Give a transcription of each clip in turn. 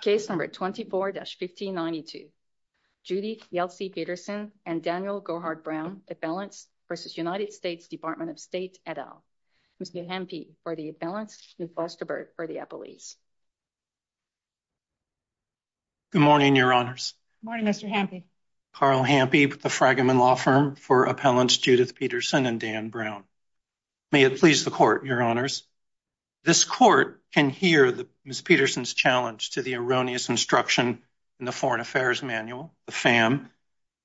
Case number 24-1592. Judy Yeltsin Pietersen and Daniel Gohard-Brown, Appellants v. United States Department of State et al. Ms. Newhampy for the Appellants, Ms. Westerberg for the Appellees. Good morning, Your Honors. Good morning, Mr. Hampy. Carl Hampy with the Fragment Law Firm for Appellants Judith Pietersen and Dan Brown. May it please the Court, Your This Court can hear Ms. Pietersen's challenge to the erroneous instruction in the Foreign Affairs Manual, the FAM.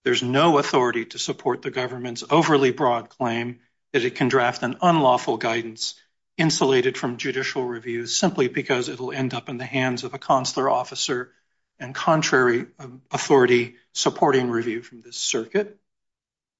There's no authority to support the government's overly broad claim that it can draft an unlawful guidance insulated from judicial reviews simply because it'll end up in the hands of a consular officer and contrary authority supporting review from this circuit.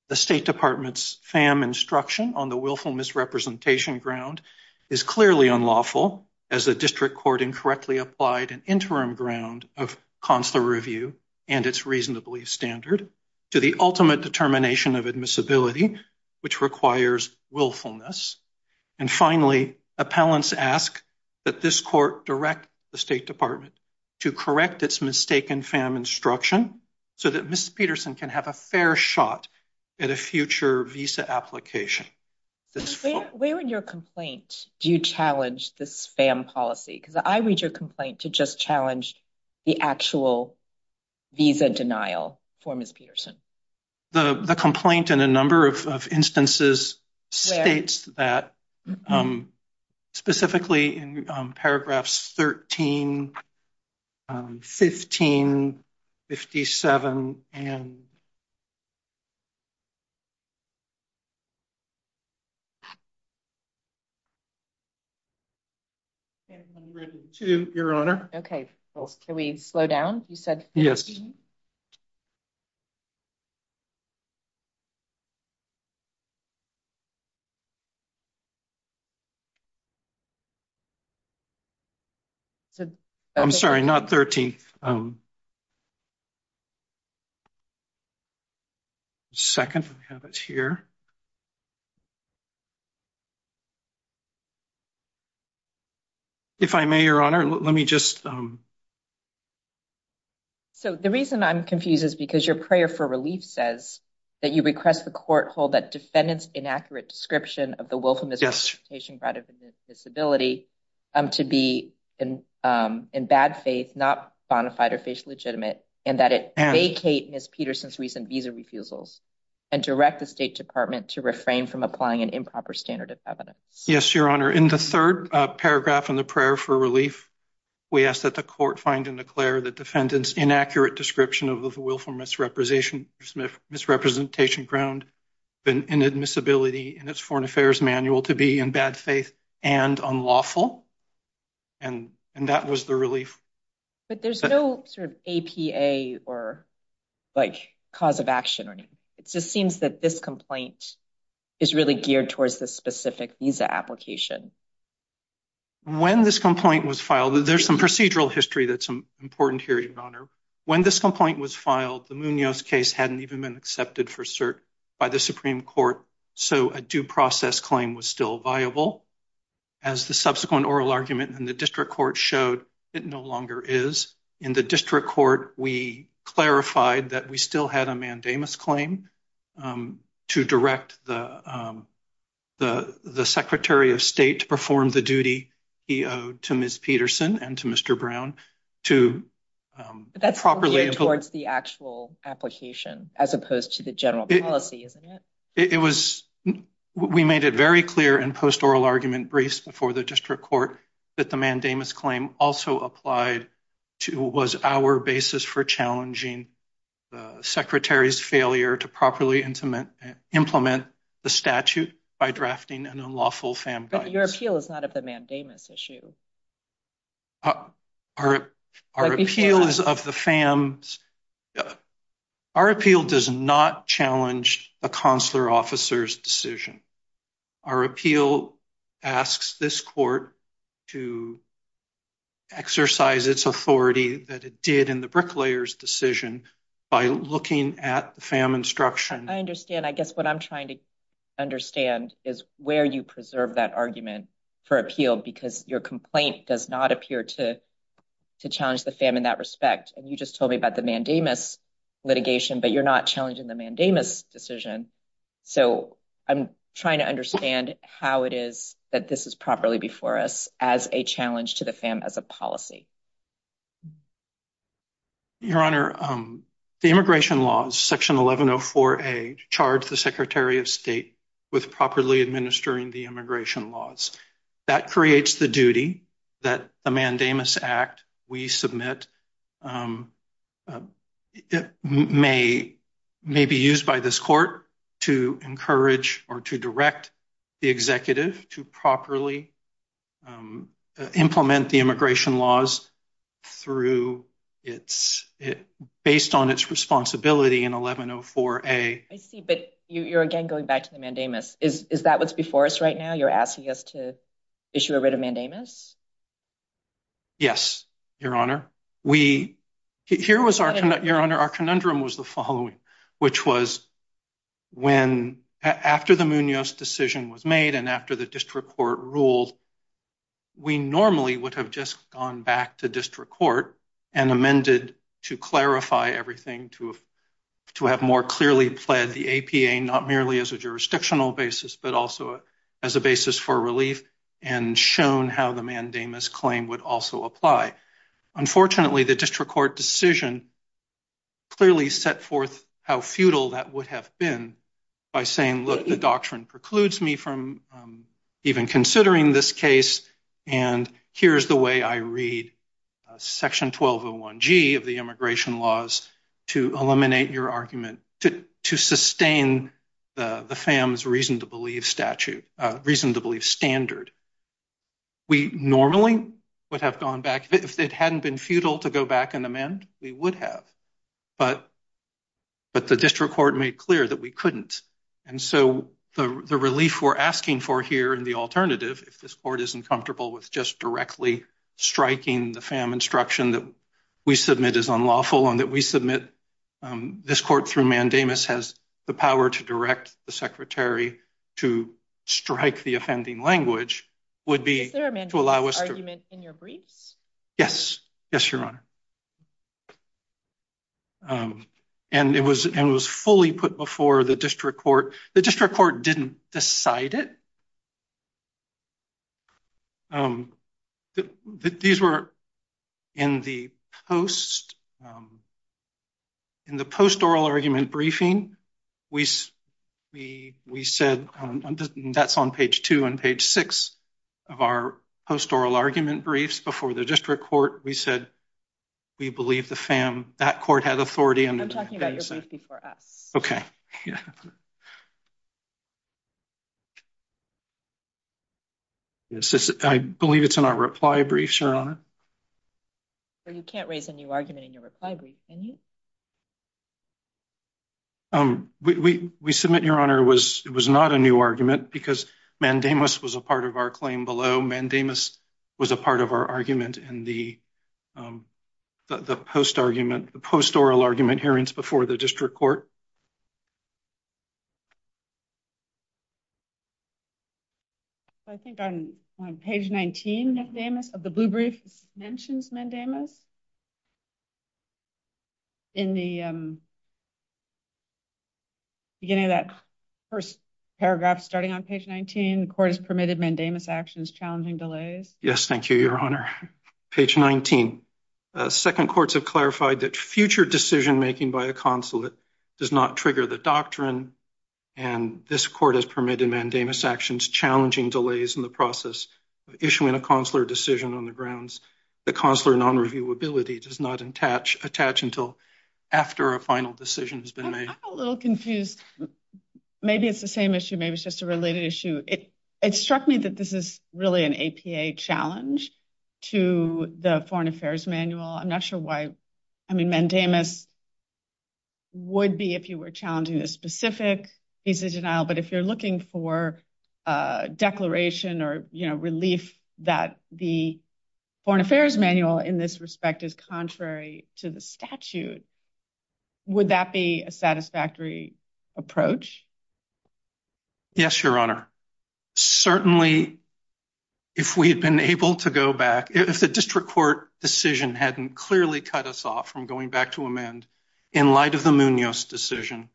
The State Department's FAM instruction on the willful misrepresentation ground is clearly unlawful as the District Court incorrectly applied an interim ground of consular review and it's reasonably standard to the ultimate determination of admissibility which requires willfulness. And finally Appellants ask that this Court direct the State Department to correct its mistaken FAM instruction so that Ms. Pietersen can have a fair shot at a Do you challenge this FAM policy? Because I read your complaint to just challenge the actual visa denial for Ms. Pietersen. The complaint in a number of instances states that specifically in paragraphs 13, 15, 57 and 52, Your Honor. Okay, can we slow down? You said 15? Yes. I'm sorry, not 13th. Second, we have it here. If I may, Your Honor, let me just... So the reason I'm confused is because your prayer for relief says that you request the court hold that defendants inaccurate description of the willful misrepresentation ground of admissibility to be in bad faith, not bona fide or face legitimate and that it vacate Ms. Pietersen's recent visa refusals and direct the State Department to refrain from applying an improper standard of evidence. Yes, Your Honor. In the third paragraph in the prayer for relief, we ask that the court find and declare the defendants inaccurate description of the willful misrepresentation ground in admissibility in its foreign affairs manual to be in bad faith and unlawful and that was the relief. But there's no sort of APA or like cause of action. It just seems that this complaint is really geared towards this specific visa application. When this complaint was filed, there's some procedural history that's important here, Your Honor. When this complaint was filed, the Munoz case hadn't even been accepted for cert by the Supreme Court, so a due process claim was still viable. As the subsequent oral argument in the district court showed, it no longer is. In the district court, we clarified that we still had a mandamus claim to direct the Secretary of State to perform the duty he owed to Ms. Pietersen and to Mr. Brown to properly... But that's geared towards the actual application as opposed to the general policy, isn't it? It was, we made it very clear in post oral argument briefs before the district court that the mandamus claim also applied to was our basis for challenging the Secretary's failure to properly implement the statute by drafting an unlawful FAM guide. But your appeal is not of the mandamus issue. Our appeal is of the FAMs... Our appeal does not challenge a consular officer's decision. Our appeal asks this court to exercise its authority that it did in the Bricklayer's decision by looking at the FAM instruction. I understand. I guess what I'm trying to understand is where you preserve that argument for appeal because your complaint does not appear to challenge the FAM in that respect. And you just told me about the mandamus litigation, but you're not challenging the mandamus decision. So I'm trying to understand how it is that this is properly before us as a challenge to the FAM as a policy. Your Honor, the immigration laws, section 1104a, charge the Secretary of State with properly administering the immigration laws. That creates the duty that the mandamus act we submit may be used by this court to encourage or to direct the executive to properly implement the immigration laws through its, based on its responsibility in 1104a. I see, but you're again going back to the mandamus. Is that what's before us right now? You're asking us to issue a writ of mandamus? Yes, Your Honor. We, here was our, Your Honor, our conundrum was the following, which was when, after the Munoz decision was made and after the district court ruled, we normally would have just gone back to district court and amended to clarify everything to, to have more clearly pled the APA, not merely as a jurisdictional basis, but also as a basis for relief and shown how the mandamus claim would also apply. Unfortunately, the district court decision clearly set forth how futile that would have been by saying, look, the doctrine precludes me from even considering this case and here's the way I read section 1201g of the immigration laws to eliminate your argument, to sustain the FAM's reason to believe statute, reason to believe standard. We normally would have gone back if it hadn't been futile to go back and amend, we would have, but, but the district court made clear that we couldn't. And so the relief we're asking for here in the alternative, if this court isn't comfortable with just directly striking the FAM instruction that we submit is unlawful and that we submit, um, this court through mandamus has the power to direct the secretary to strike the offending language, would be to allow us to... Is there a mandamus argument in your briefs? Yes. Yes, Your Honor. Um, and it was, and it was fully put before the district court. The district court didn't decide it. Um, these were in the post, um, in the post oral argument briefing, we, we, we said, um, that's on page two and page six of our post oral argument briefs before the district court, we said we believe the FAM, that the district court had authority and... I'm talking about your brief before us. Okay, yeah. Yes, I believe it's in our reply brief, Your Honor. So you can't raise a new argument in your reply brief, can you? Um, we, we, we submit, Your Honor, it was, it was not a new argument because mandamus was a part of our claim below. Mandamus was a part of our argument in the, um, the post argument, the post oral argument hearings before the district court. I think on page 19 of the blue brief mentions mandamus. In the, um, beginning of that first paragraph, starting on page 19, the court has permitted mandamus actions, challenging delays. Yes, thank you, Your Honor. Page 19. Second courts have clarified that future decision-making by a consulate does not trigger the doctrine and this court has permitted mandamus actions, challenging delays in the process of issuing a consular decision on the grounds that consular non-reviewability does not attach, attach until after a final decision has been made. I'm a little confused. Maybe it's the same issue. Maybe it's just a related issue. It struck me that this is really an APA challenge to the foreign affairs manual. I'm not sure why. I mean, mandamus would be if you were challenging a specific piece of denial. But if you're looking for a declaration or, you know, relief that the foreign affairs manual in this respect is contrary to the statute, would that be a satisfactory approach? Yes, Your Honor. Certainly, if we had been able to go back, if the district court decision hadn't clearly cut us off from going back to amend, in light of the Munoz decision,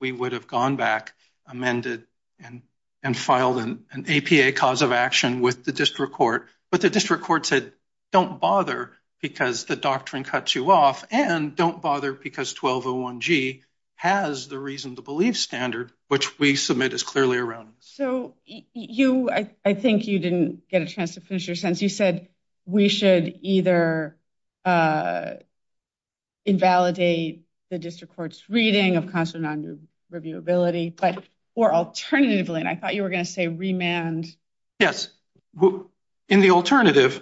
we would have gone back, amended, and filed an APA cause of action with the district court. But the district court said, don't bother because the doctrine cuts you off, and don't bother because 1201G has the reason to believe standard, which we submit is clearly around. So, you, I think you didn't get a chance to finish your sentence. You said, we should either invalidate the district court's reading of consular non-reviewability, or alternatively, and I thought you were going to say remand. Yes. In the alternative,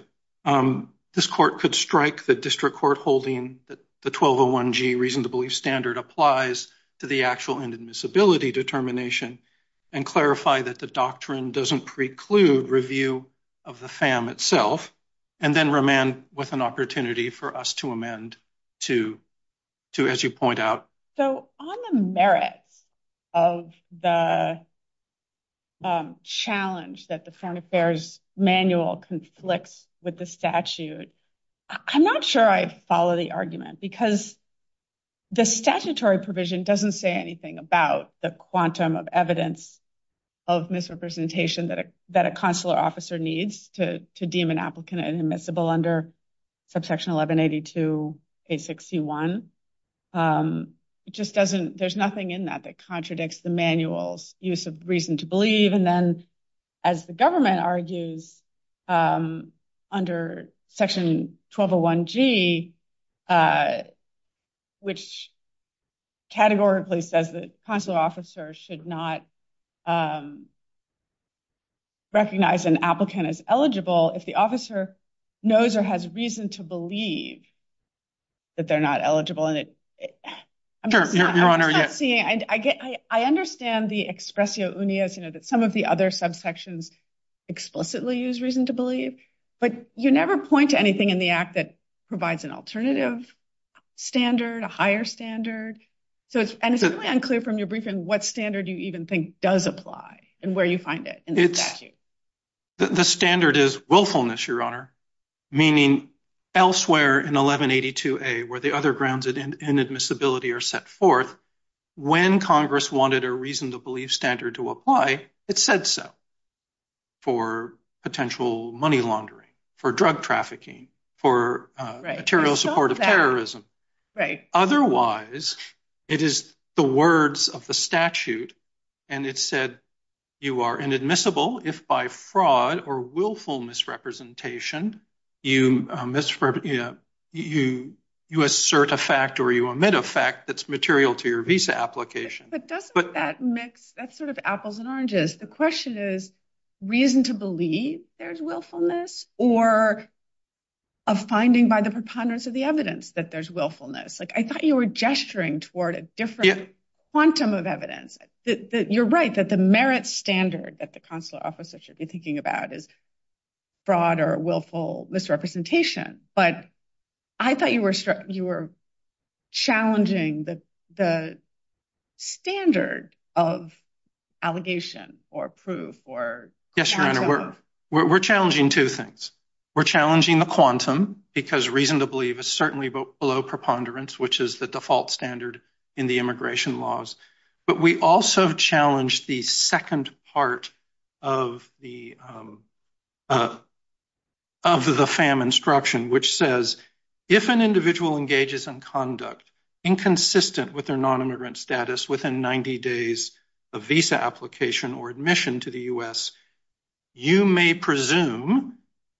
this court could strike the district court holding that the 1201G reason to believe standard applies to the actual inadmissibility determination, and clarify that the doctrine doesn't preclude review of the FAM itself, and then remand with an opportunity for us to amend to, as you point out. So, on the merits of the challenge that the foreign affairs manual conflicts with the statute, I'm not sure I'd follow the argument, because the statutory provision doesn't say anything about the quantum of evidence of misrepresentation that a consular officer needs to deem an applicant inadmissible under subsection 1182A61. It just doesn't, there's nothing in that that contradicts the manual's use of reason to believe, and then, as the government argues, under section 1201G, which categorically says that consular officers should not recognize an applicant as eligible if the officer knows or has reason to believe that they're not eligible. I'm just not seeing, I understand the expressio unias, you know, that some of the other subsections explicitly use reason to believe, but you never point to anything in the act that provides an alternative standard, a higher standard, and it's really unclear from your briefing what standard you even think does apply and where you find it in the statute. The standard is willfulness, Your Honor, meaning elsewhere in 1182A where the other grounds of inadmissibility are set forth, when Congress wanted a reason to believe standard to apply, it said so, for potential money laundering, for drug trafficking, for material support of terrorism. Otherwise, it is the words of the statute, and it said you are inadmissible if by fraud or willful misrepresentation, you assert a fact or you omit a fact that's material to your visa application. But doesn't that mix, that's sort of apples and oranges. The question is reason to believe there's willfulness or a finding by the preponderance of the evidence that there's willfulness. I thought you were gesturing toward a different quantum of evidence. You're right that the merit standard that the consular officer should be thinking about is fraud or willful misrepresentation, but I thought you were challenging the standard of allegation or proof. Yes, Your Honor, we're challenging two things. We're challenging the quantum because reason to believe is certainly below preponderance, which is the default standard in the immigration laws. But we also challenge the second part of the FAM instruction, which says if an individual engages in conduct inconsistent with their nonimmigrant status within 90 days of visa application or admission to the U.S., you may presume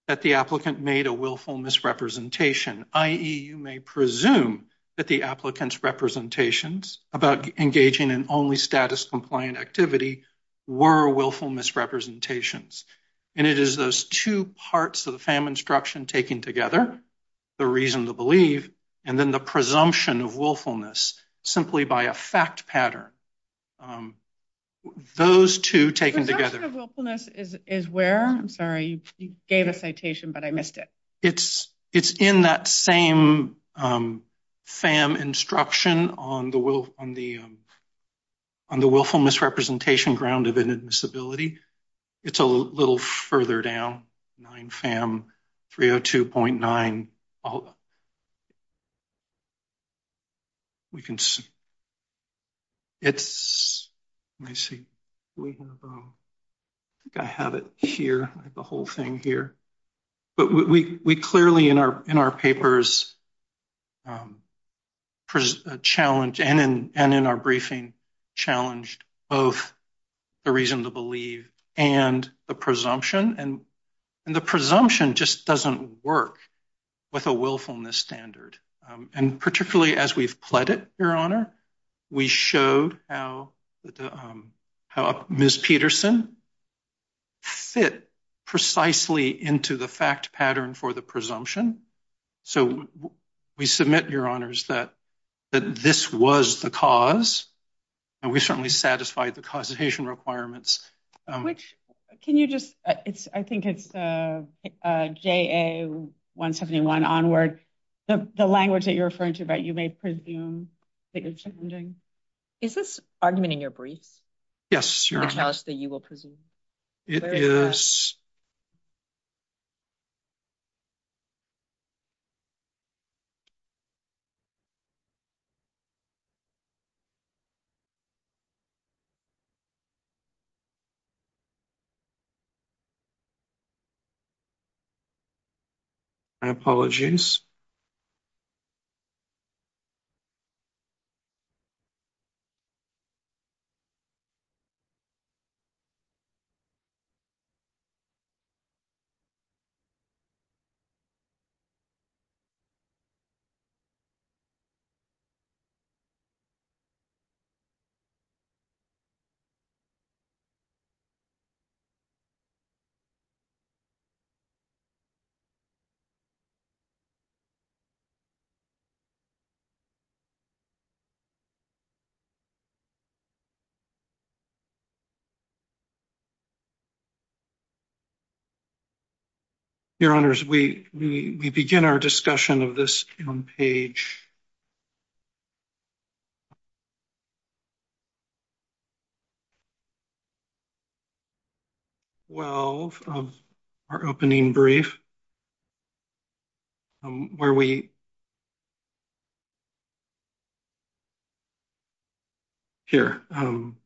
that the applicant made a willful misrepresentation, i.e., you may presume that the applicant's representations about engaging in only status-compliant activity were willful misrepresentations. And it is those two parts of the FAM instruction taken together, the reason to believe, and then the presumption of willfulness simply by a fact pattern, those two taken together. Presumption of willfulness is where? I'm sorry, you gave a citation, but I missed it. It's in that same FAM instruction on the willful misrepresentation ground of inadmissibility. It's a little further down, 9 FAM 302.9. I think I have it here, the whole thing here. But we clearly in our papers challenged and in our briefing challenged both the reason to believe and the presumption. And the presumption just doesn't work with a willfulness standard. And particularly as we've pledged it, Your Honor, we showed how Ms. Peterson fit precisely into the fact pattern for the presumption. So we submit, Your Honors, that this was the cause, and we certainly satisfied the causation requirements. Can you just, I think it's JA 171 onward, the language that you're referring to, but you may presume that you're challenging. Is this argument in your briefs? Yes, Your Honor. The cause that you will presume. Yes. My apologies. Thank you. Your Honors, we begin our discussion of this on page 12 of our opening brief, where we. Here, on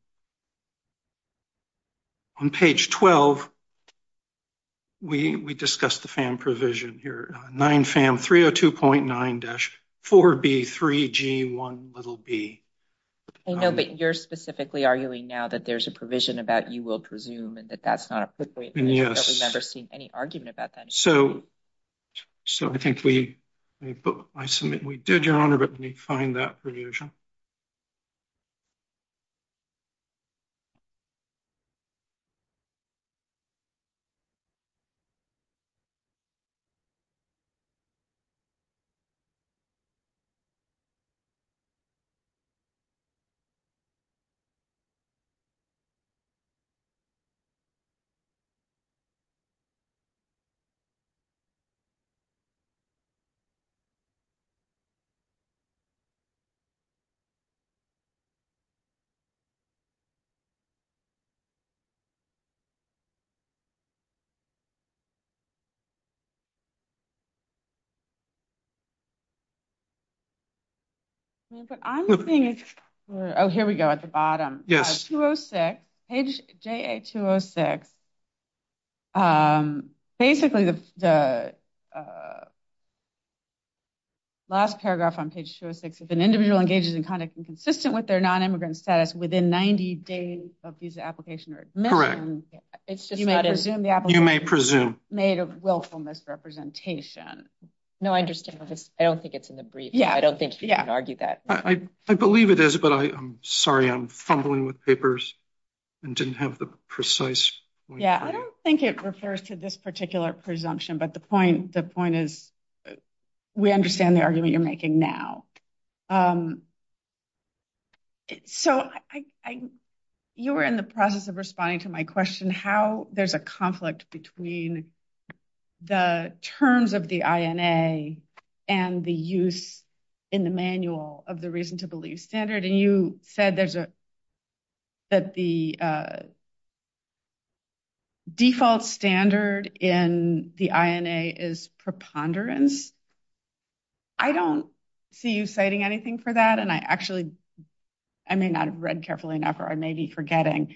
page 12, we discussed the FAM provision here, 9 FAM 302.9-4B3G1b. I know, but you're specifically arguing now that there's a provision about you will presume and that that's not appropriate. Yes. I've never seen any argument about that. So I think we, I submit we did, Your Honor, but let me find that provision. But I'm seeing, oh, here we go, at the bottom. On page 206, page JA 206, basically the last paragraph on page 206, if an individual engages in conduct inconsistent with their nonimmigrant status within 90 days of visa application or admission. You may presume. Made a willful misrepresentation. No, I understand. I don't think it's in the brief. Yeah. I don't think you can argue that. I believe it is, but I'm sorry, I'm fumbling with papers and didn't have the precise. Yeah, I don't think it refers to this particular presumption, but the point, the point is, we understand the argument you're making now. So, I, you were in the process of responding to my question, how there's a conflict between the terms of the INA and the use in the manual of the reason to believe standard and you said there's a, that the default standard in the INA is preponderance. I don't see you citing anything for that, and I actually, I may not have read carefully enough, or I may be forgetting,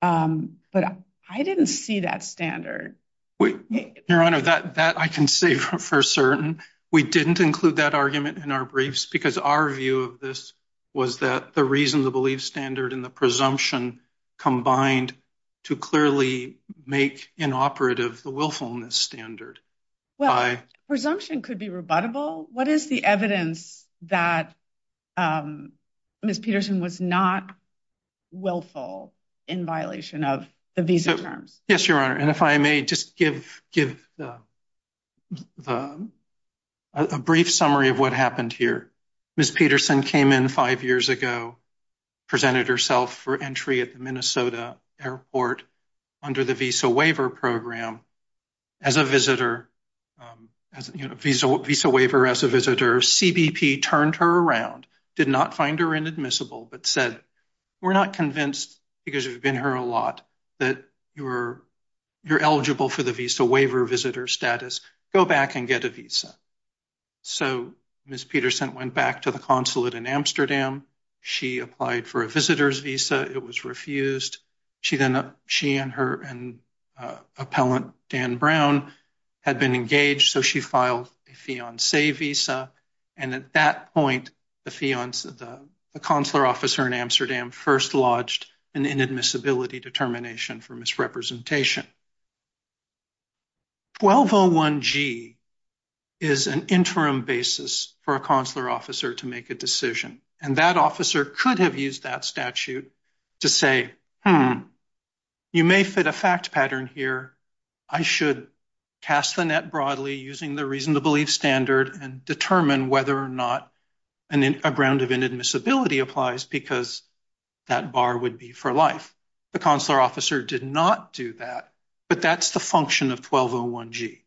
but I didn't see that standard. Your Honor, that I can say for certain. We didn't include that argument in our briefs because our view of this was that the reason to believe standard and the presumption combined to clearly make inoperative the willfulness standard. Well, presumption could be rebuttable. What is the evidence that Ms. Peterson was not willful in violation of the visa terms? Yes, Your Honor, and if I may just give a brief summary of what happened here. Ms. Peterson came in five years ago, presented herself for entry at the Minnesota airport under the visa waiver program. As a visitor, visa waiver as a visitor, CBP turned her around, did not find her inadmissible, but said, we're not convinced because you've been here a lot that you're eligible for the visa waiver visitor status. Go back and get a visa. So Ms. Peterson went back to the consulate in Amsterdam. She applied for a visitor's visa. It was refused. She and her appellant, Dan Brown, had been engaged, so she filed a fiancé visa, and at that point, the consular officer in Amsterdam first lodged an inadmissibility determination for misrepresentation. 1201G is an interim basis for a consular officer to make a decision, and that officer could have used that statute to say, hmm, you may fit a fact pattern here. I should cast the net broadly using the reason to believe standard and determine whether or not a ground of inadmissibility applies because that bar would be for life. The consular officer did not do that, but that's the function of 1201G,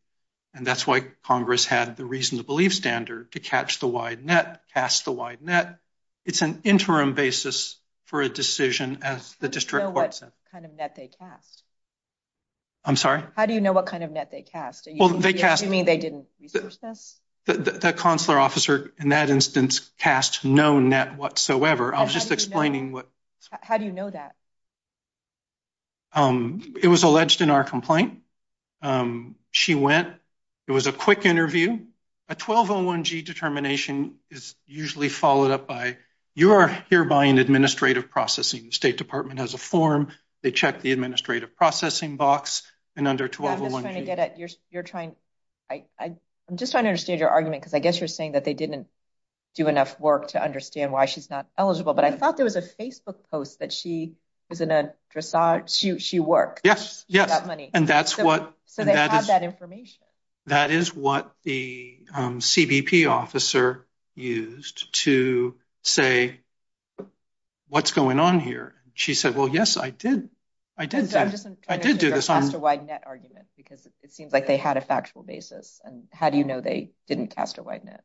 and that's why Congress had the reason to believe standard to catch the wide net, cast the wide net. It's an interim basis for a decision as the district court said. How do you know what kind of net they cast? I'm sorry? How do you know what kind of net they cast? Well, they cast... Do you mean they didn't research this? The consular officer in that instance cast no net whatsoever. I was just explaining what... How do you know that? It was alleged in our complaint. She went. It was a quick interview. A 1201G determination is usually followed up by, you are hereby in administrative processing. The State Department has a form. They check the administrative processing box, and under 1201G... I'm just trying to get at... She worked. Yes, yes. She got money. So they have that information. That is what the CBP officer used to say, what's going on here? She said, well, yes, I did. I did that. I did do this. Because it seems like they had a factual basis, and how do you know they didn't cast a wide net?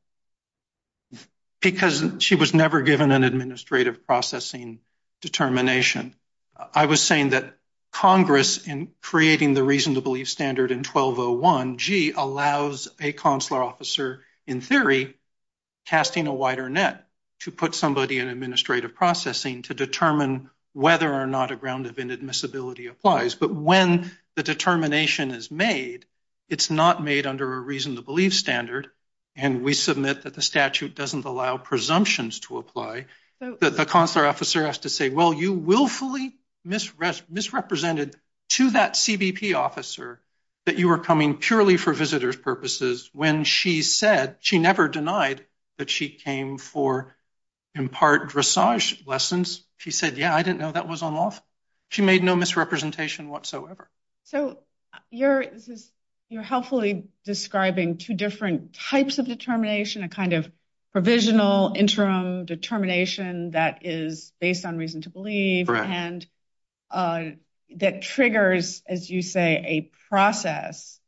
Because she was never given an administrative processing determination. I was saying that Congress, in creating the reason-to-believe standard in 1201G, allows a consular officer, in theory, casting a wider net to put somebody in administrative processing to determine whether or not a ground event admissibility applies. But when the determination is made, it's not made under a reason-to-believe standard, and we submit that the statute doesn't allow presumptions to apply, that the consular officer has to say, well, you willfully misrepresented to that CBP officer that you were coming purely for visitor's purposes when she said, she never denied that she came for, in part, dressage lessons. She said, yeah, I didn't know that was unlawful. She made no misrepresentation whatsoever. So you're helpfully describing two different types of determination, a kind of provisional interim determination that is based on reason-to-believe, and that triggers, as you say, a process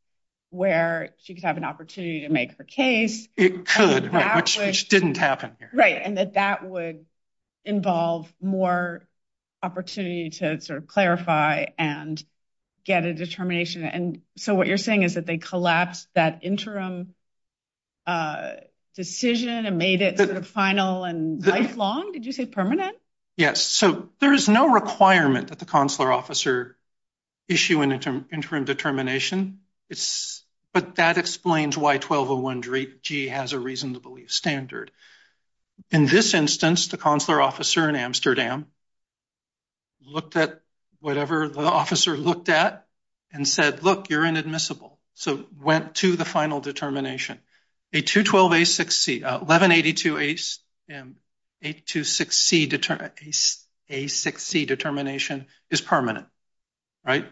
where she could have an opportunity to make her case. It could, which didn't happen here. Right, and that that would involve more opportunity to sort of clarify and get a determination. And so what you're saying is that they collapsed that interim decision and made it sort of final and lifelong? Did you say permanent? Yes. So there is no requirement that the consular officer issue an interim determination, but that explains why 1201G has a reason-to-believe standard. In this instance, the consular officer in Amsterdam looked at whatever the officer looked at and said, look, you're inadmissible, so went to the final determination. A 212A6C, 1182A6C determination is permanent, right?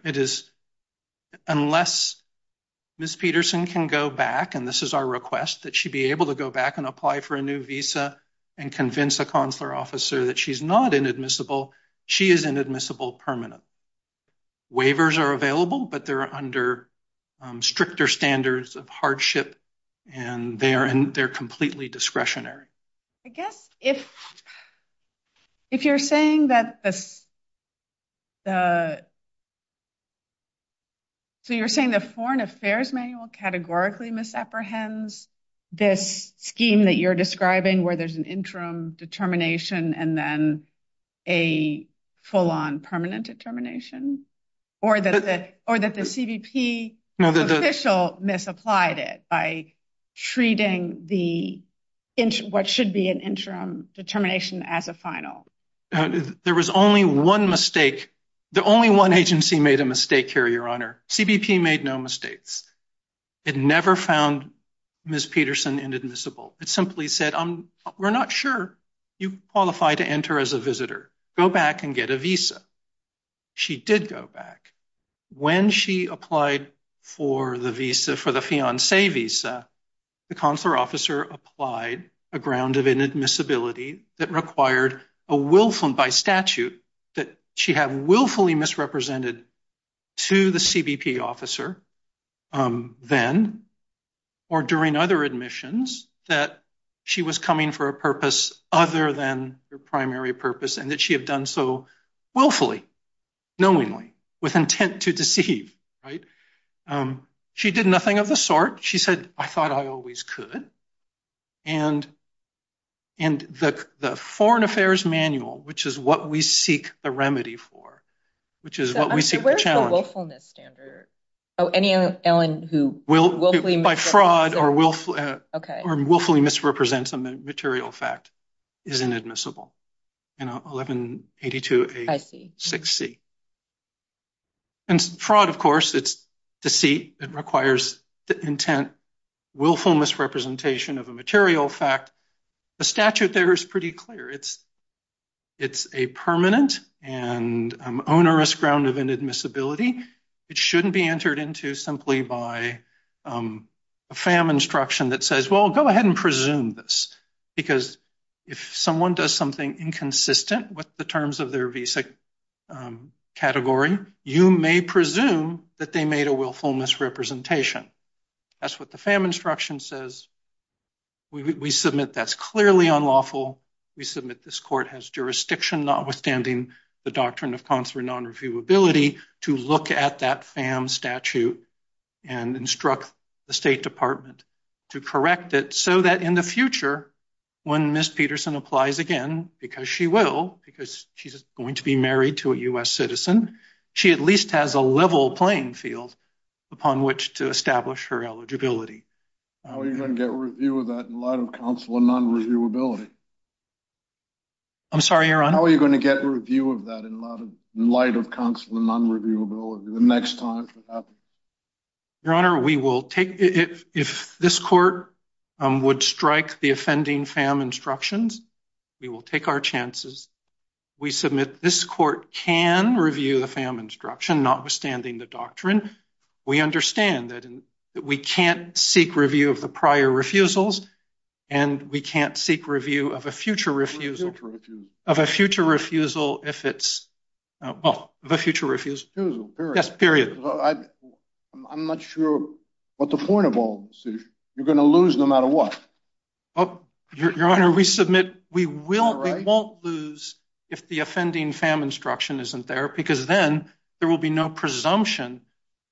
Unless Ms. Peterson can go back, and this is our request, that she be able to go back and apply for a new visa and convince a consular officer that she's not inadmissible, she is inadmissible permanent. Waivers are available, but they're under stricter standards of hardship, and they're completely discretionary. I guess if you're saying that the Foreign Affairs Manual categorically misapprehends this scheme that you're describing where there's an interim determination and then a full-on permanent determination, or that the CBP official misapplied it by treating what should be an interim determination as a final. There was only one mistake. The only one agency made a mistake here, Your Honor. CBP made no mistakes. It never found Ms. Peterson inadmissible. It simply said, we're not sure you qualify to enter as a visitor. Go back and get a visa. She did go back. When she applied for the visa, for the fiancé visa, the consular officer applied a ground of inadmissibility that required a willful, and by statute, that she have willfully misrepresented to the CBP officer then or during other admissions that she was coming for a purpose other than her primary purpose and that she had done so willfully, knowingly, with intent to deceive. She did nothing of the sort. She said, I thought I always could. And the Foreign Affairs Manual, which is what we seek a remedy for, which is what we seek to challenge. Where's the willfulness standard? By fraud or willfully misrepresents a material fact is inadmissible in 1182A6C. And fraud, of course, it's deceit. It requires the intent, willful misrepresentation of a material fact. The statute there is pretty clear. It's a permanent and onerous ground of inadmissibility. It shouldn't be entered into simply by a FAM instruction that says, well, go ahead and presume this, because if someone does something inconsistent with the terms of their visa category, you may presume that they made a willful misrepresentation. That's what the FAM instruction says. We submit that's clearly unlawful. We submit this court has jurisdiction, notwithstanding the doctrine of consular nonreviewability, to look at that FAM statute and instruct the State Department to correct it so that in the future, when Ms. Peterson applies again, because she will, because she's going to be married to a U.S. citizen, she at least has a level playing field upon which to establish her eligibility. How are you going to get a review of that in light of consular nonreviewability? I'm sorry, Your Honor? How are you going to get a review of that in light of consular nonreviewability the next time that happens? Your Honor, we will take it. If this court would strike the offending FAM instructions, we will take our chances. We submit this court can review the FAM instruction, notwithstanding the doctrine. We understand that we can't seek review of the prior refusals, and we can't seek review of a future refusal. Of a future refusal. Of a future refusal if it's, well, of a future refusal. Refusal, period. Yes, period. I'm not sure what the point of all this is. You're going to lose no matter what. Your Honor, we submit we won't lose if the offending FAM instruction isn't there, because then there will be no presumption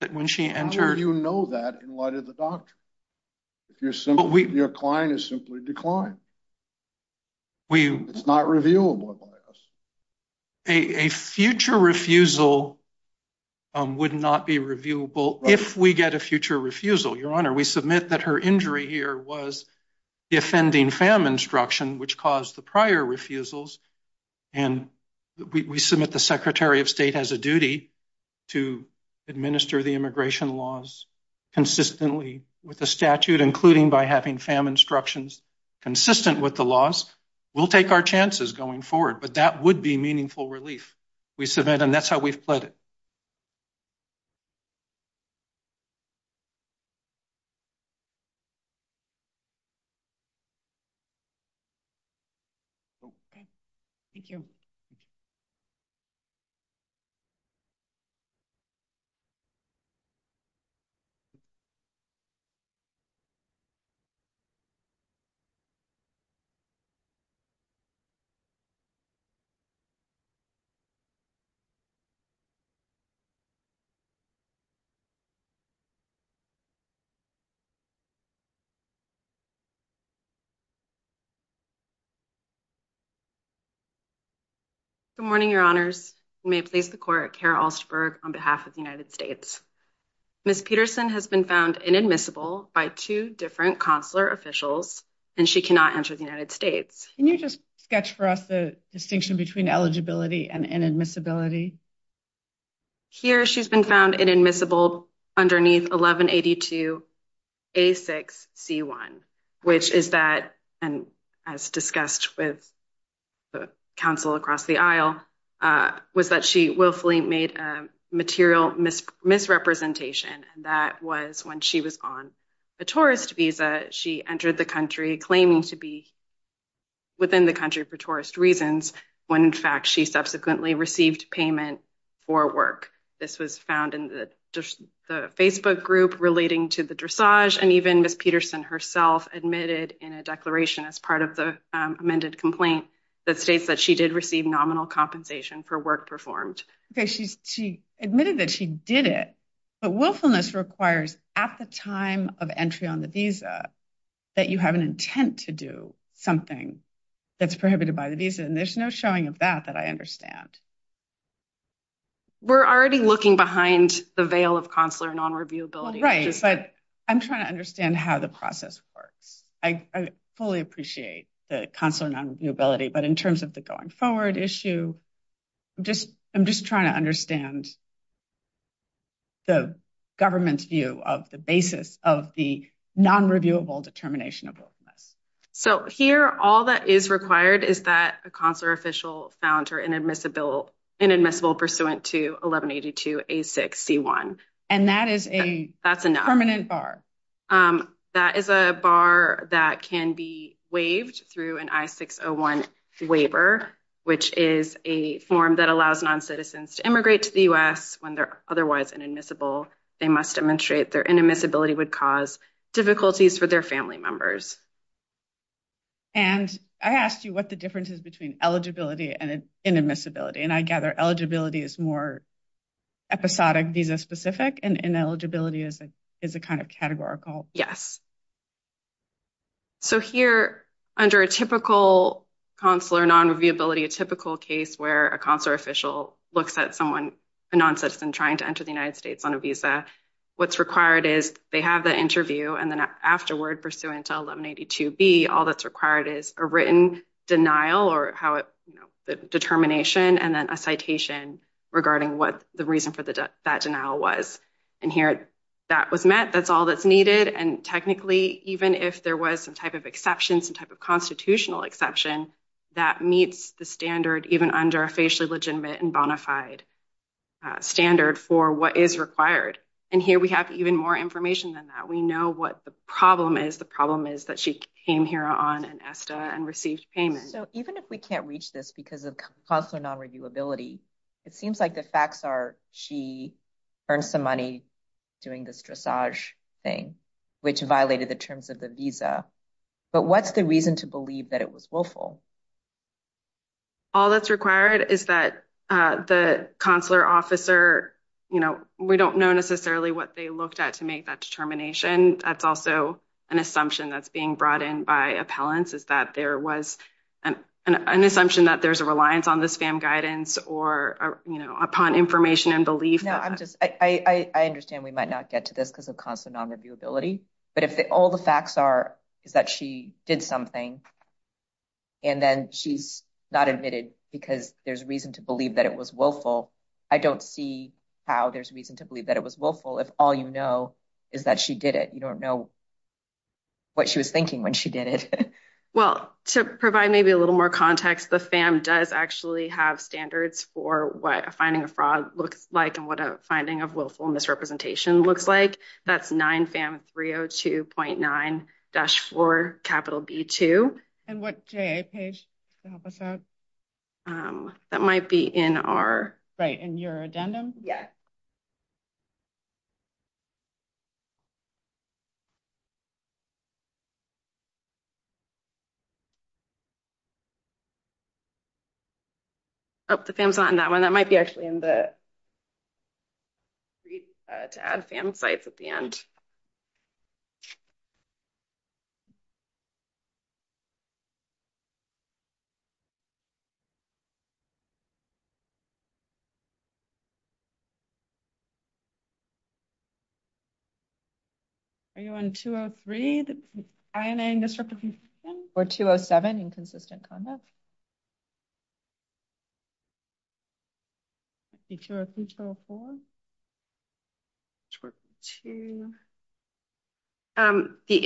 that when she enters. How will you know that in light of the doctrine? Your client is simply declined. It's not reviewable by us. A future refusal would not be reviewable if we get a future refusal, Your Honor. We submit that her injury here was the offending FAM instruction, which caused the prior refusals, and we submit the Secretary of State has a duty to administer the immigration laws consistently with the statute, including by having FAM instructions consistent with the laws. We'll take our chances going forward, but that would be meaningful relief. We submit, and that's how we've pledged it. Okay. Thank you. Good morning, Your Honors. You may place the court at Kara Alsterberg on behalf of the United States. Ms. Peterson has been found inadmissible by two different consular officials, and she cannot enter the United States. Can you just sketch for us the distinction between eligibility and inadmissibility? Here she's been found inadmissible underneath 1182A6C1, which is that, and as discussed with counsel across the aisle, was that she willfully made a material misrepresentation, and that was when she was on a tourist visa. She entered the country claiming to be within the country for tourist reasons, when, in fact, she subsequently received payment for work. This was found in the Facebook group relating to the dressage, and even Ms. Peterson herself admitted in a declaration as part of the amended complaint that states that she did receive nominal compensation for work performed. Okay. She admitted that she did it, but willfulness requires at the time of entry on the visa that you have an intent to do something that's prohibited by the visa, and there's no showing of that that I understand. We're already looking behind the veil of consular nonreviewability. I'm trying to understand how the process works. I fully appreciate the consular nonreviewability, but in terms of the going forward issue, I'm just trying to understand the government's view of the basis of the nonreviewable determination of willfulness. So here, all that is required is that a consular official found her inadmissible pursuant to 1182A6C1. And that is a permanent bar? That is a bar that can be waived through an I-601 waiver, which is a form that allows noncitizens to immigrate to the U.S. when they're otherwise inadmissible. They must demonstrate their inadmissibility would cause difficulties for their family members. And I asked you what the difference is between eligibility and inadmissibility, and I gather eligibility is more episodic visa-specific, and ineligibility is a kind of categorical. So here, under a typical consular nonreviewability, a typical case where a consular official looks at someone, a noncitizen, trying to enter the United States on a visa, what's required is they have the interview, and then afterward, pursuant to 1182B, all that's required is a written denial, or the determination, and then a citation regarding what the reason for that denial was. And here, that was met. That's all that's needed. And technically, even if there was some type of exception, some type of constitutional exception, that meets the standard even under a facially legitimate and bona fide standard for what is required. And here we have even more information than that. We know what the problem is. The problem is that she came here on an ESTA and received payment. So even if we can't reach this because of consular nonreviewability, it seems like the facts are she earned some money doing this dressage thing, which violated the terms of the visa. But what's the reason to believe that it was willful? All that's required is that the consular officer, we don't know necessarily what they looked at to make that determination. That's also an assumption that's being brought in by appellants, is that there was an assumption that there's a reliance on the spam guidance or upon information and belief. I understand we might not get to this because of consular nonreviewability, but if all the facts are is that she did something and then she's not admitted because there's reason to believe that it was willful, I don't see how there's reason to believe that it was willful if all you know is that she did it. You don't know what she was thinking when she did it. Well, to provide maybe a little more context, the FAM does actually have standards for what a finding of fraud looks like and what a finding of willful misrepresentation looks like. That's 9FAM302.9-4B2. And what JA page to help us out? That might be in our... Right, in your addendum? Yes. Oh, the FAM's not in that one. That might be actually in the read to add FAM sites at the end. Are you on 203, the INA misrepresentation? Or 207, inconsistent conduct? The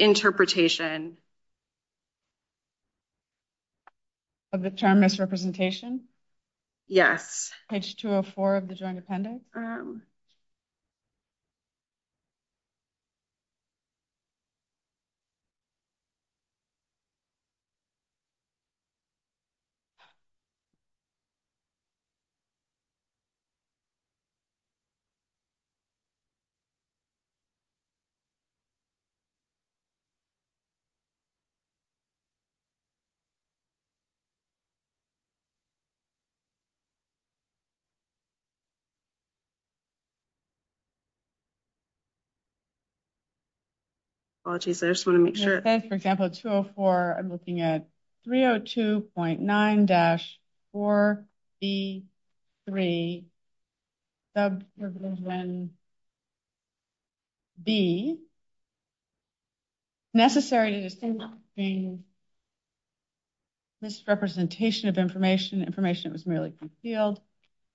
interpretation. Of the term misrepresentation? Yes. Page 204 of the joint appendix? Okay. Apologies. I just want to make sure. For example, 204, I'm looking at 302.9-4B3. Subdivision B. Necessary to distinguish between misrepresentation of information, information that was merely concealed,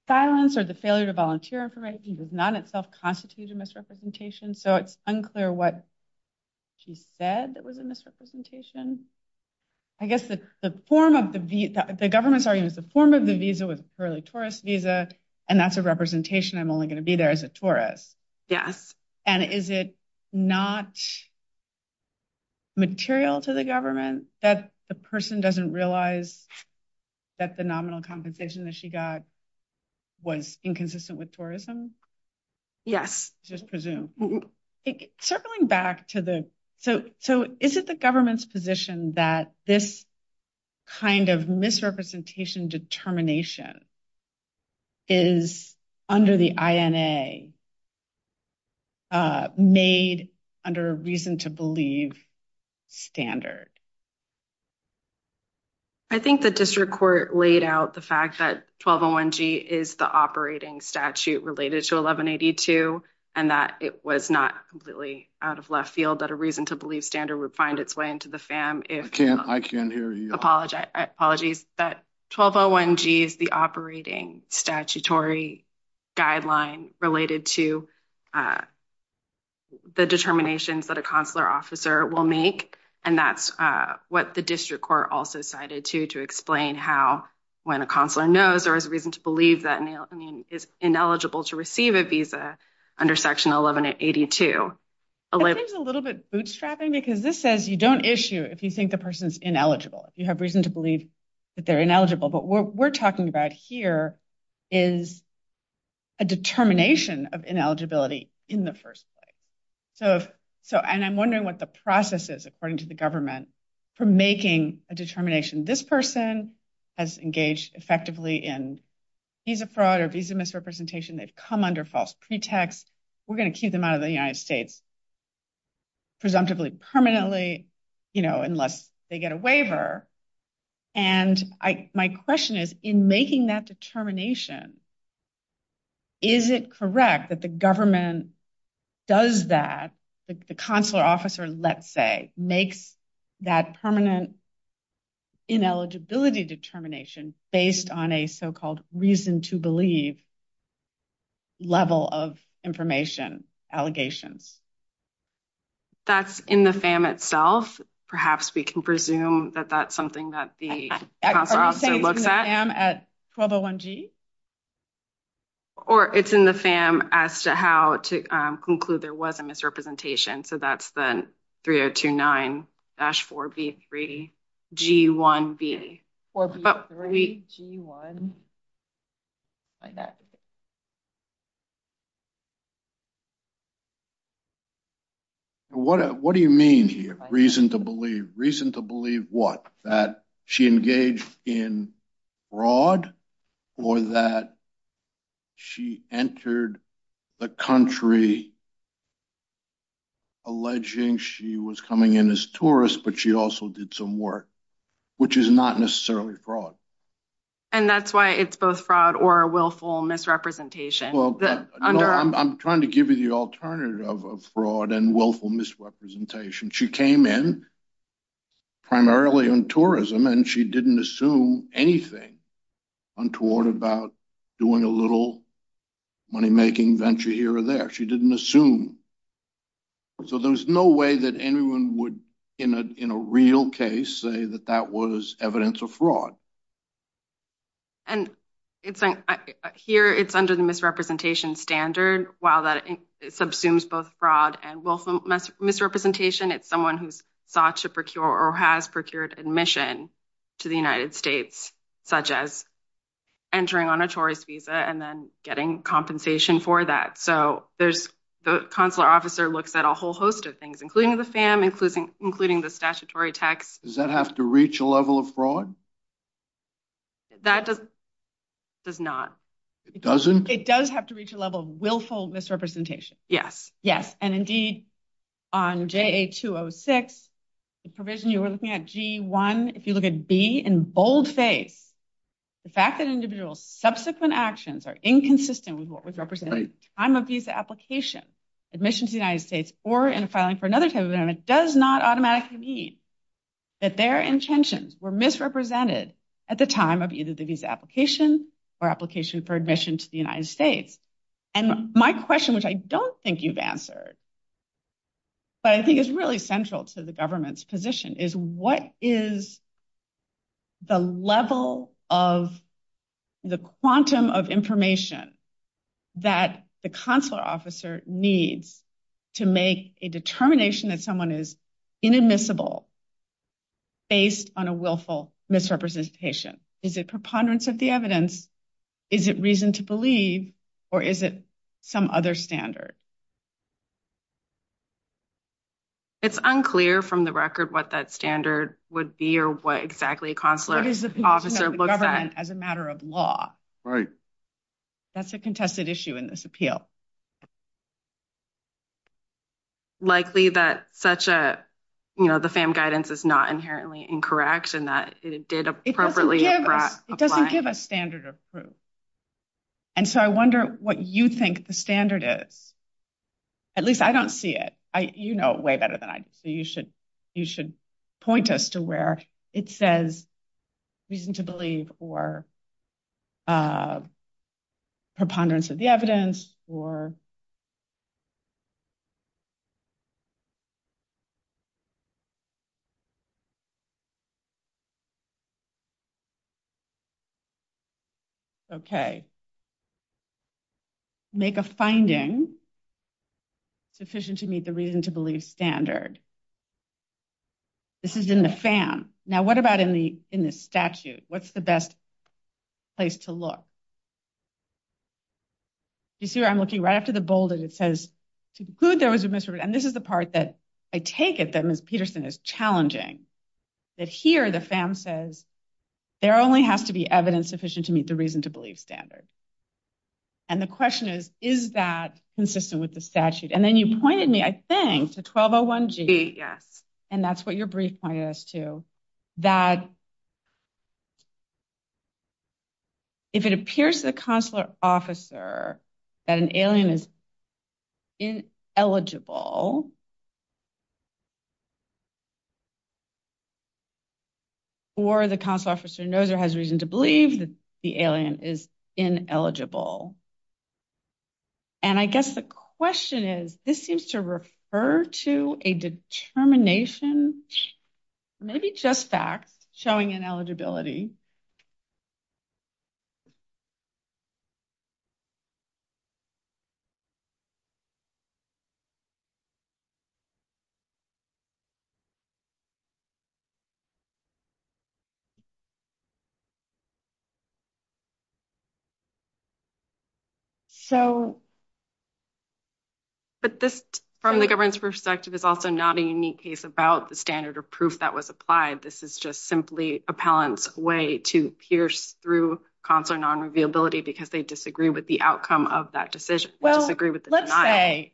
silence or the failure to volunteer information does not in itself constitute a misrepresentation. So it's unclear what she said that was a misrepresentation. I guess the form of the government's argument is the form of the visa was a purely tourist visa, and that's a representation. I'm only going to be there as a tourist. Yes. And is it not material to the government that the person doesn't realize that the nominal compensation that she got was inconsistent with tourism? Yes. Circling back to the, so is it the government's position that this kind of misrepresentation determination is under the INA made under a reason to believe standard? I think the district court laid out the fact that 1201G is the operating statute related to 1182 and that it was not completely out of left field that a reason to believe standard would find its way into the FAM. I can't hear you. That 1201G is the operating statutory guideline related to the determinations that a consular officer will make, and that's what the district court also cited to, to explain how when a consular knows or has a reason to believe that a person is ineligible to receive a visa under section 1182. I think it's a little bit bootstrapping because this says you don't issue if you think the person's ineligible, if you have reason to believe that they're ineligible. But what we're talking about here is a determination of ineligibility in the first place. So, and I'm wondering what the process is, according to the government, for making a determination. This person has engaged effectively in visa fraud or visa misrepresentation. They've come under false pretext. We're going to keep them out of the United States, presumptively permanently, you know, unless they get a waiver. And I, my question is in making that determination, is it correct that the government does that? The consular officer, let's say, makes that permanent ineligibility determination based on a so-called reason to believe level of information allegations. That's in the FAM itself. Perhaps we can presume that that's something that the consular officer looks at. Are you saying it's in the FAM at 1201G? Or it's in the FAM as to how to conclude there was a misrepresentation. So that's the 3029-4B3G1B. What do you mean here, reason to believe? Reason to believe what? That she engaged in fraud or that she entered the country alleging she was coming in as tourists, but she also did some work, which is not necessarily fraud. And that's why it's both fraud or willful misrepresentation. I'm trying to give you the alternative of fraud and willful misrepresentation. She came in primarily on tourism and she didn't assume anything untoward about doing a little money-making venture here or there. She didn't assume. So there's no way that anyone would, in a real case, say that that was evidence of fraud. Here, it's under the misrepresentation standard. While that subsumes both fraud and willful misrepresentation, it's someone who's sought to procure or has procured admission to the United States, such as entering on a tourist visa and then getting compensation for that. So the consular officer looks at a whole host of things, including the FAM, including the statutory text. Does that have to reach a level of fraud? That does not. It doesn't? It does have to reach a level of willful misrepresentation. Yes. Yes, and indeed, on JA-206, the provision you were looking at, G-1, if you look at B in boldface, the fact that an individual's subsequent actions are inconsistent with what was represented at the time of visa application, admission to the United States, or in filing for another type of visa, does not automatically mean that their intentions were misrepresented at the time of either the visa application or application for admission to the United States. And my question, which I don't think you've answered, but I think is really central to the government's position, is what is the level of the quantum of information that the consular officer needs to make a determination that someone is inadmissible based on a willful misrepresentation? Is it preponderance of the evidence? Is it reason to believe, or is it some other standard? It's unclear from the record what that standard would be or what exactly a consular officer looks at. What is the position of the government as a matter of law? Right. That's a contested issue in this appeal. Likely that such a, you know, the FAM guidance is not inherently incorrect and that it did appropriately apply. It doesn't give a standard of proof. And so I wonder what you think the standard is. At least I don't see it. You know it way better than I do, so you should point us to where it says reason to believe or preponderance of the evidence or... Okay. Make a finding sufficient to meet the reason to believe standard. This is in the FAM. Now what about in the statute? What's the best place to look? You see where I'm looking, right after the bolded it says to conclude there was a misrepresentation. And this is the part that I take it that Ms. Peterson is challenging. That here the FAM says there only has to be evidence sufficient to meet the reason to believe standard. And the question is, is that consistent with the statute? And then you pointed me, I think, to 1201G. And that's what your brief pointed us to. That if it appears to the consular officer that an alien is ineligible, or the consular officer knows or has reason to believe that the alien is ineligible. And I guess the question is, this seems to refer to a determination, maybe just facts, showing ineligibility. So. But this, from the government's perspective, is also not a unique case about the standard of proof that was applied. This is just simply appellant's way to pierce through consular non-revealability because they disagree with the outcome of that decision. Well, let's say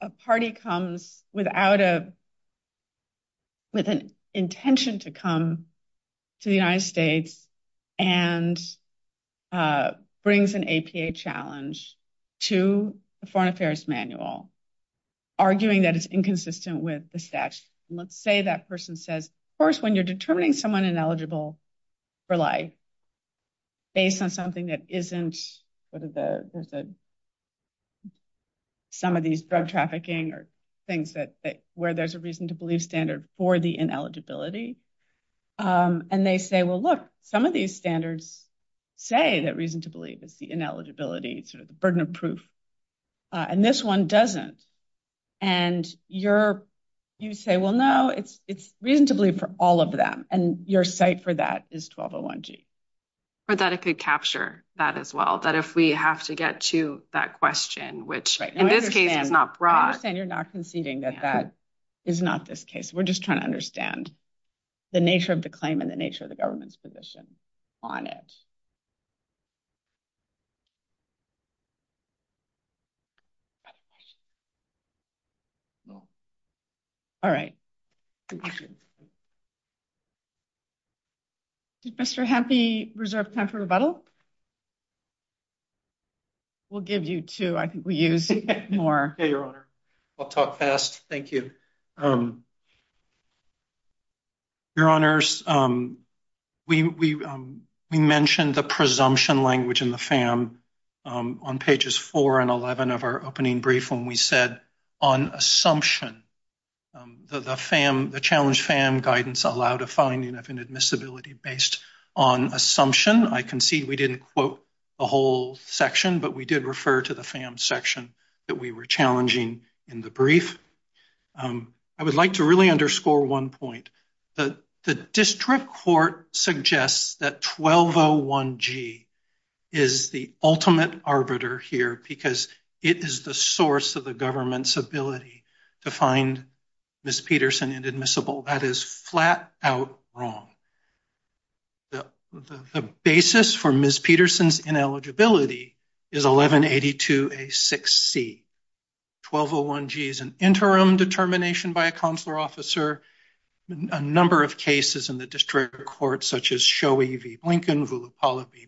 a party comes without a, with a non-revealability, has an intention to come to the United States and brings an APA challenge to the Foreign Affairs Manual, arguing that it's inconsistent with the statute. Let's say that person says, of course, when you're determining someone ineligible for life, based on something that isn't, some of these drug trafficking or things that, where there's a reason to believe standard for the ineligibility. And they say, well, look, some of these standards say that reason to believe is the ineligibility, sort of the burden of proof. And this one doesn't. And you're, you say, well, no, it's reason to believe for all of them. And your site for that is 1201G. Or that it could capture that as well. That if we have to get to that question, which in this case is not broad. I understand you're not conceding that that is not this case. We're just trying to understand the nature of the claim and the nature of the government's position on it. All right. Did Mr. Hempe reserve time for rebuttal? We'll give you two. I think we use more. I'll talk fast. Thank you. Your honors, we mentioned the presumption language in the FAM on pages four and 11 of our opening brief. When we said on assumption, the FAM, the challenge FAM guidance allowed a finding of inadmissibility based on assumption. I concede we didn't quote the whole section, but we did refer to the FAM section that we were challenging in the I would like to really underscore one point. The district court suggests that 1201G is the ultimate arbiter here because it is the source of the government's ability to find Ms. Peterson inadmissible. That is flat out wrong. The basis for Ms. Peterson inadmissible is 1182A6C. 1201G is an interim determination by a consular officer. A number of cases in the district court, such as Shoei v. Blinken, Vullapala v.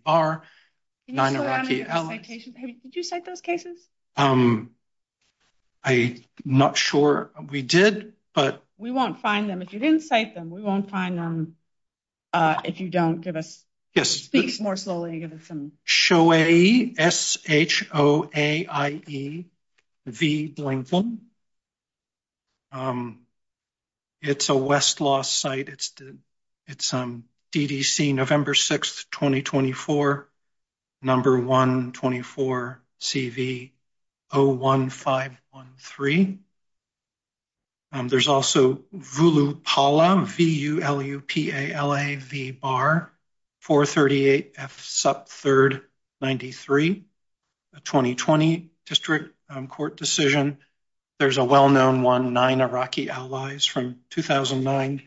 Nineraki allies. Did you cite those cases? I'm not sure we did, but. We won't find them. If you didn't cite them, we won't find them. If you don't give us. Yes. Speak more slowly. Shoei. S-H-O-A-I-E. V. Blinken. It's a Westlaw site. It's DDC November 6th, 2024. Number 124. CV 01513. There's also Vullapala. V-U-L-U-P-A-L-A-V-B-A-R. 438 F. Sup. 3rd. 93. A 2020 district court decision. There's a well-known one, Nine Iraqi allies from 2009.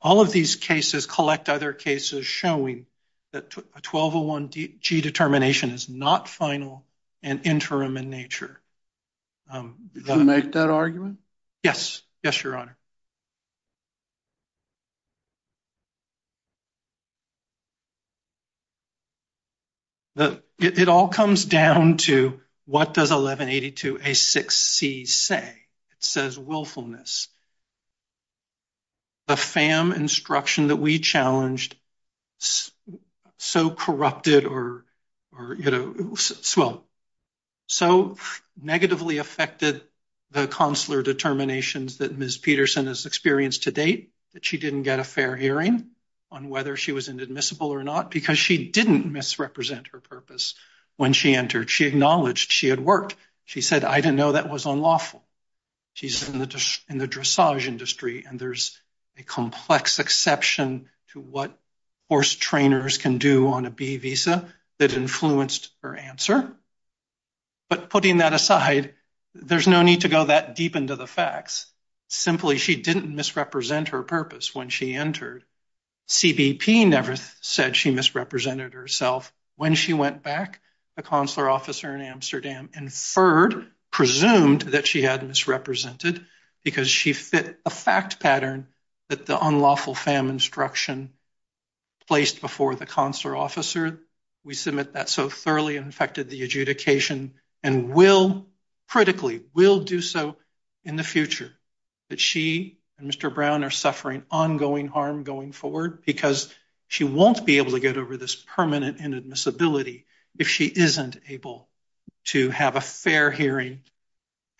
All of these cases collect other cases showing that a 1201G determination is not final and interim in nature. Did you make that argument? Yes. Yes, Your Honor. It all comes down to, what does 1182A6C say? It says willfulness. The FAM instruction that we challenged so corrupted or, you know, so negatively affected the consular determinations that Ms. Peterson has experienced to date, that she didn't get a fair hearing on whether she was inadmissible or not because she didn't misrepresent her purpose when she entered. She acknowledged she had worked. She said, I didn't know that was unlawful. She's in the dressage industry and there's a complex exception to what horse trainers can do on a B visa that influenced her answer. But putting that aside, there's no need to go that deep into the facts. Simply, she didn't misrepresent her purpose when she entered. CBP never said she misrepresented herself. When she went back, the consular officer in Amsterdam inferred, presumed that she had misrepresented because she fit a fact pattern that the unlawful FAM instruction placed before the consular officer. We submit that so thoroughly affected the adjudication and will, critically, will do so in the future, that she and Mr. Brown are suffering ongoing harm going forward because she won't be able to get over this permanent inadmissibility if she isn't able to have a fair hearing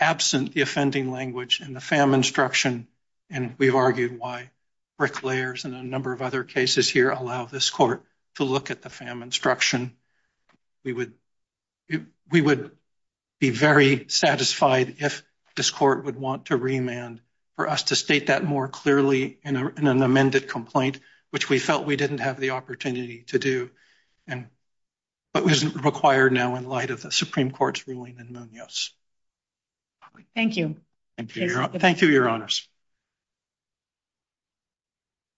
absent the offending language and the FAM instruction. And we've argued why bricklayers and a number of other cases here allow this court to look at the FAM instruction. We would be very satisfied if this court would want to remand for us to state that more clearly in an amended complaint, which we felt we didn't have the opportunity to do but isn't required now in light of the Supreme Court's ruling in Munoz. Thank you. Thank you, Your Honors.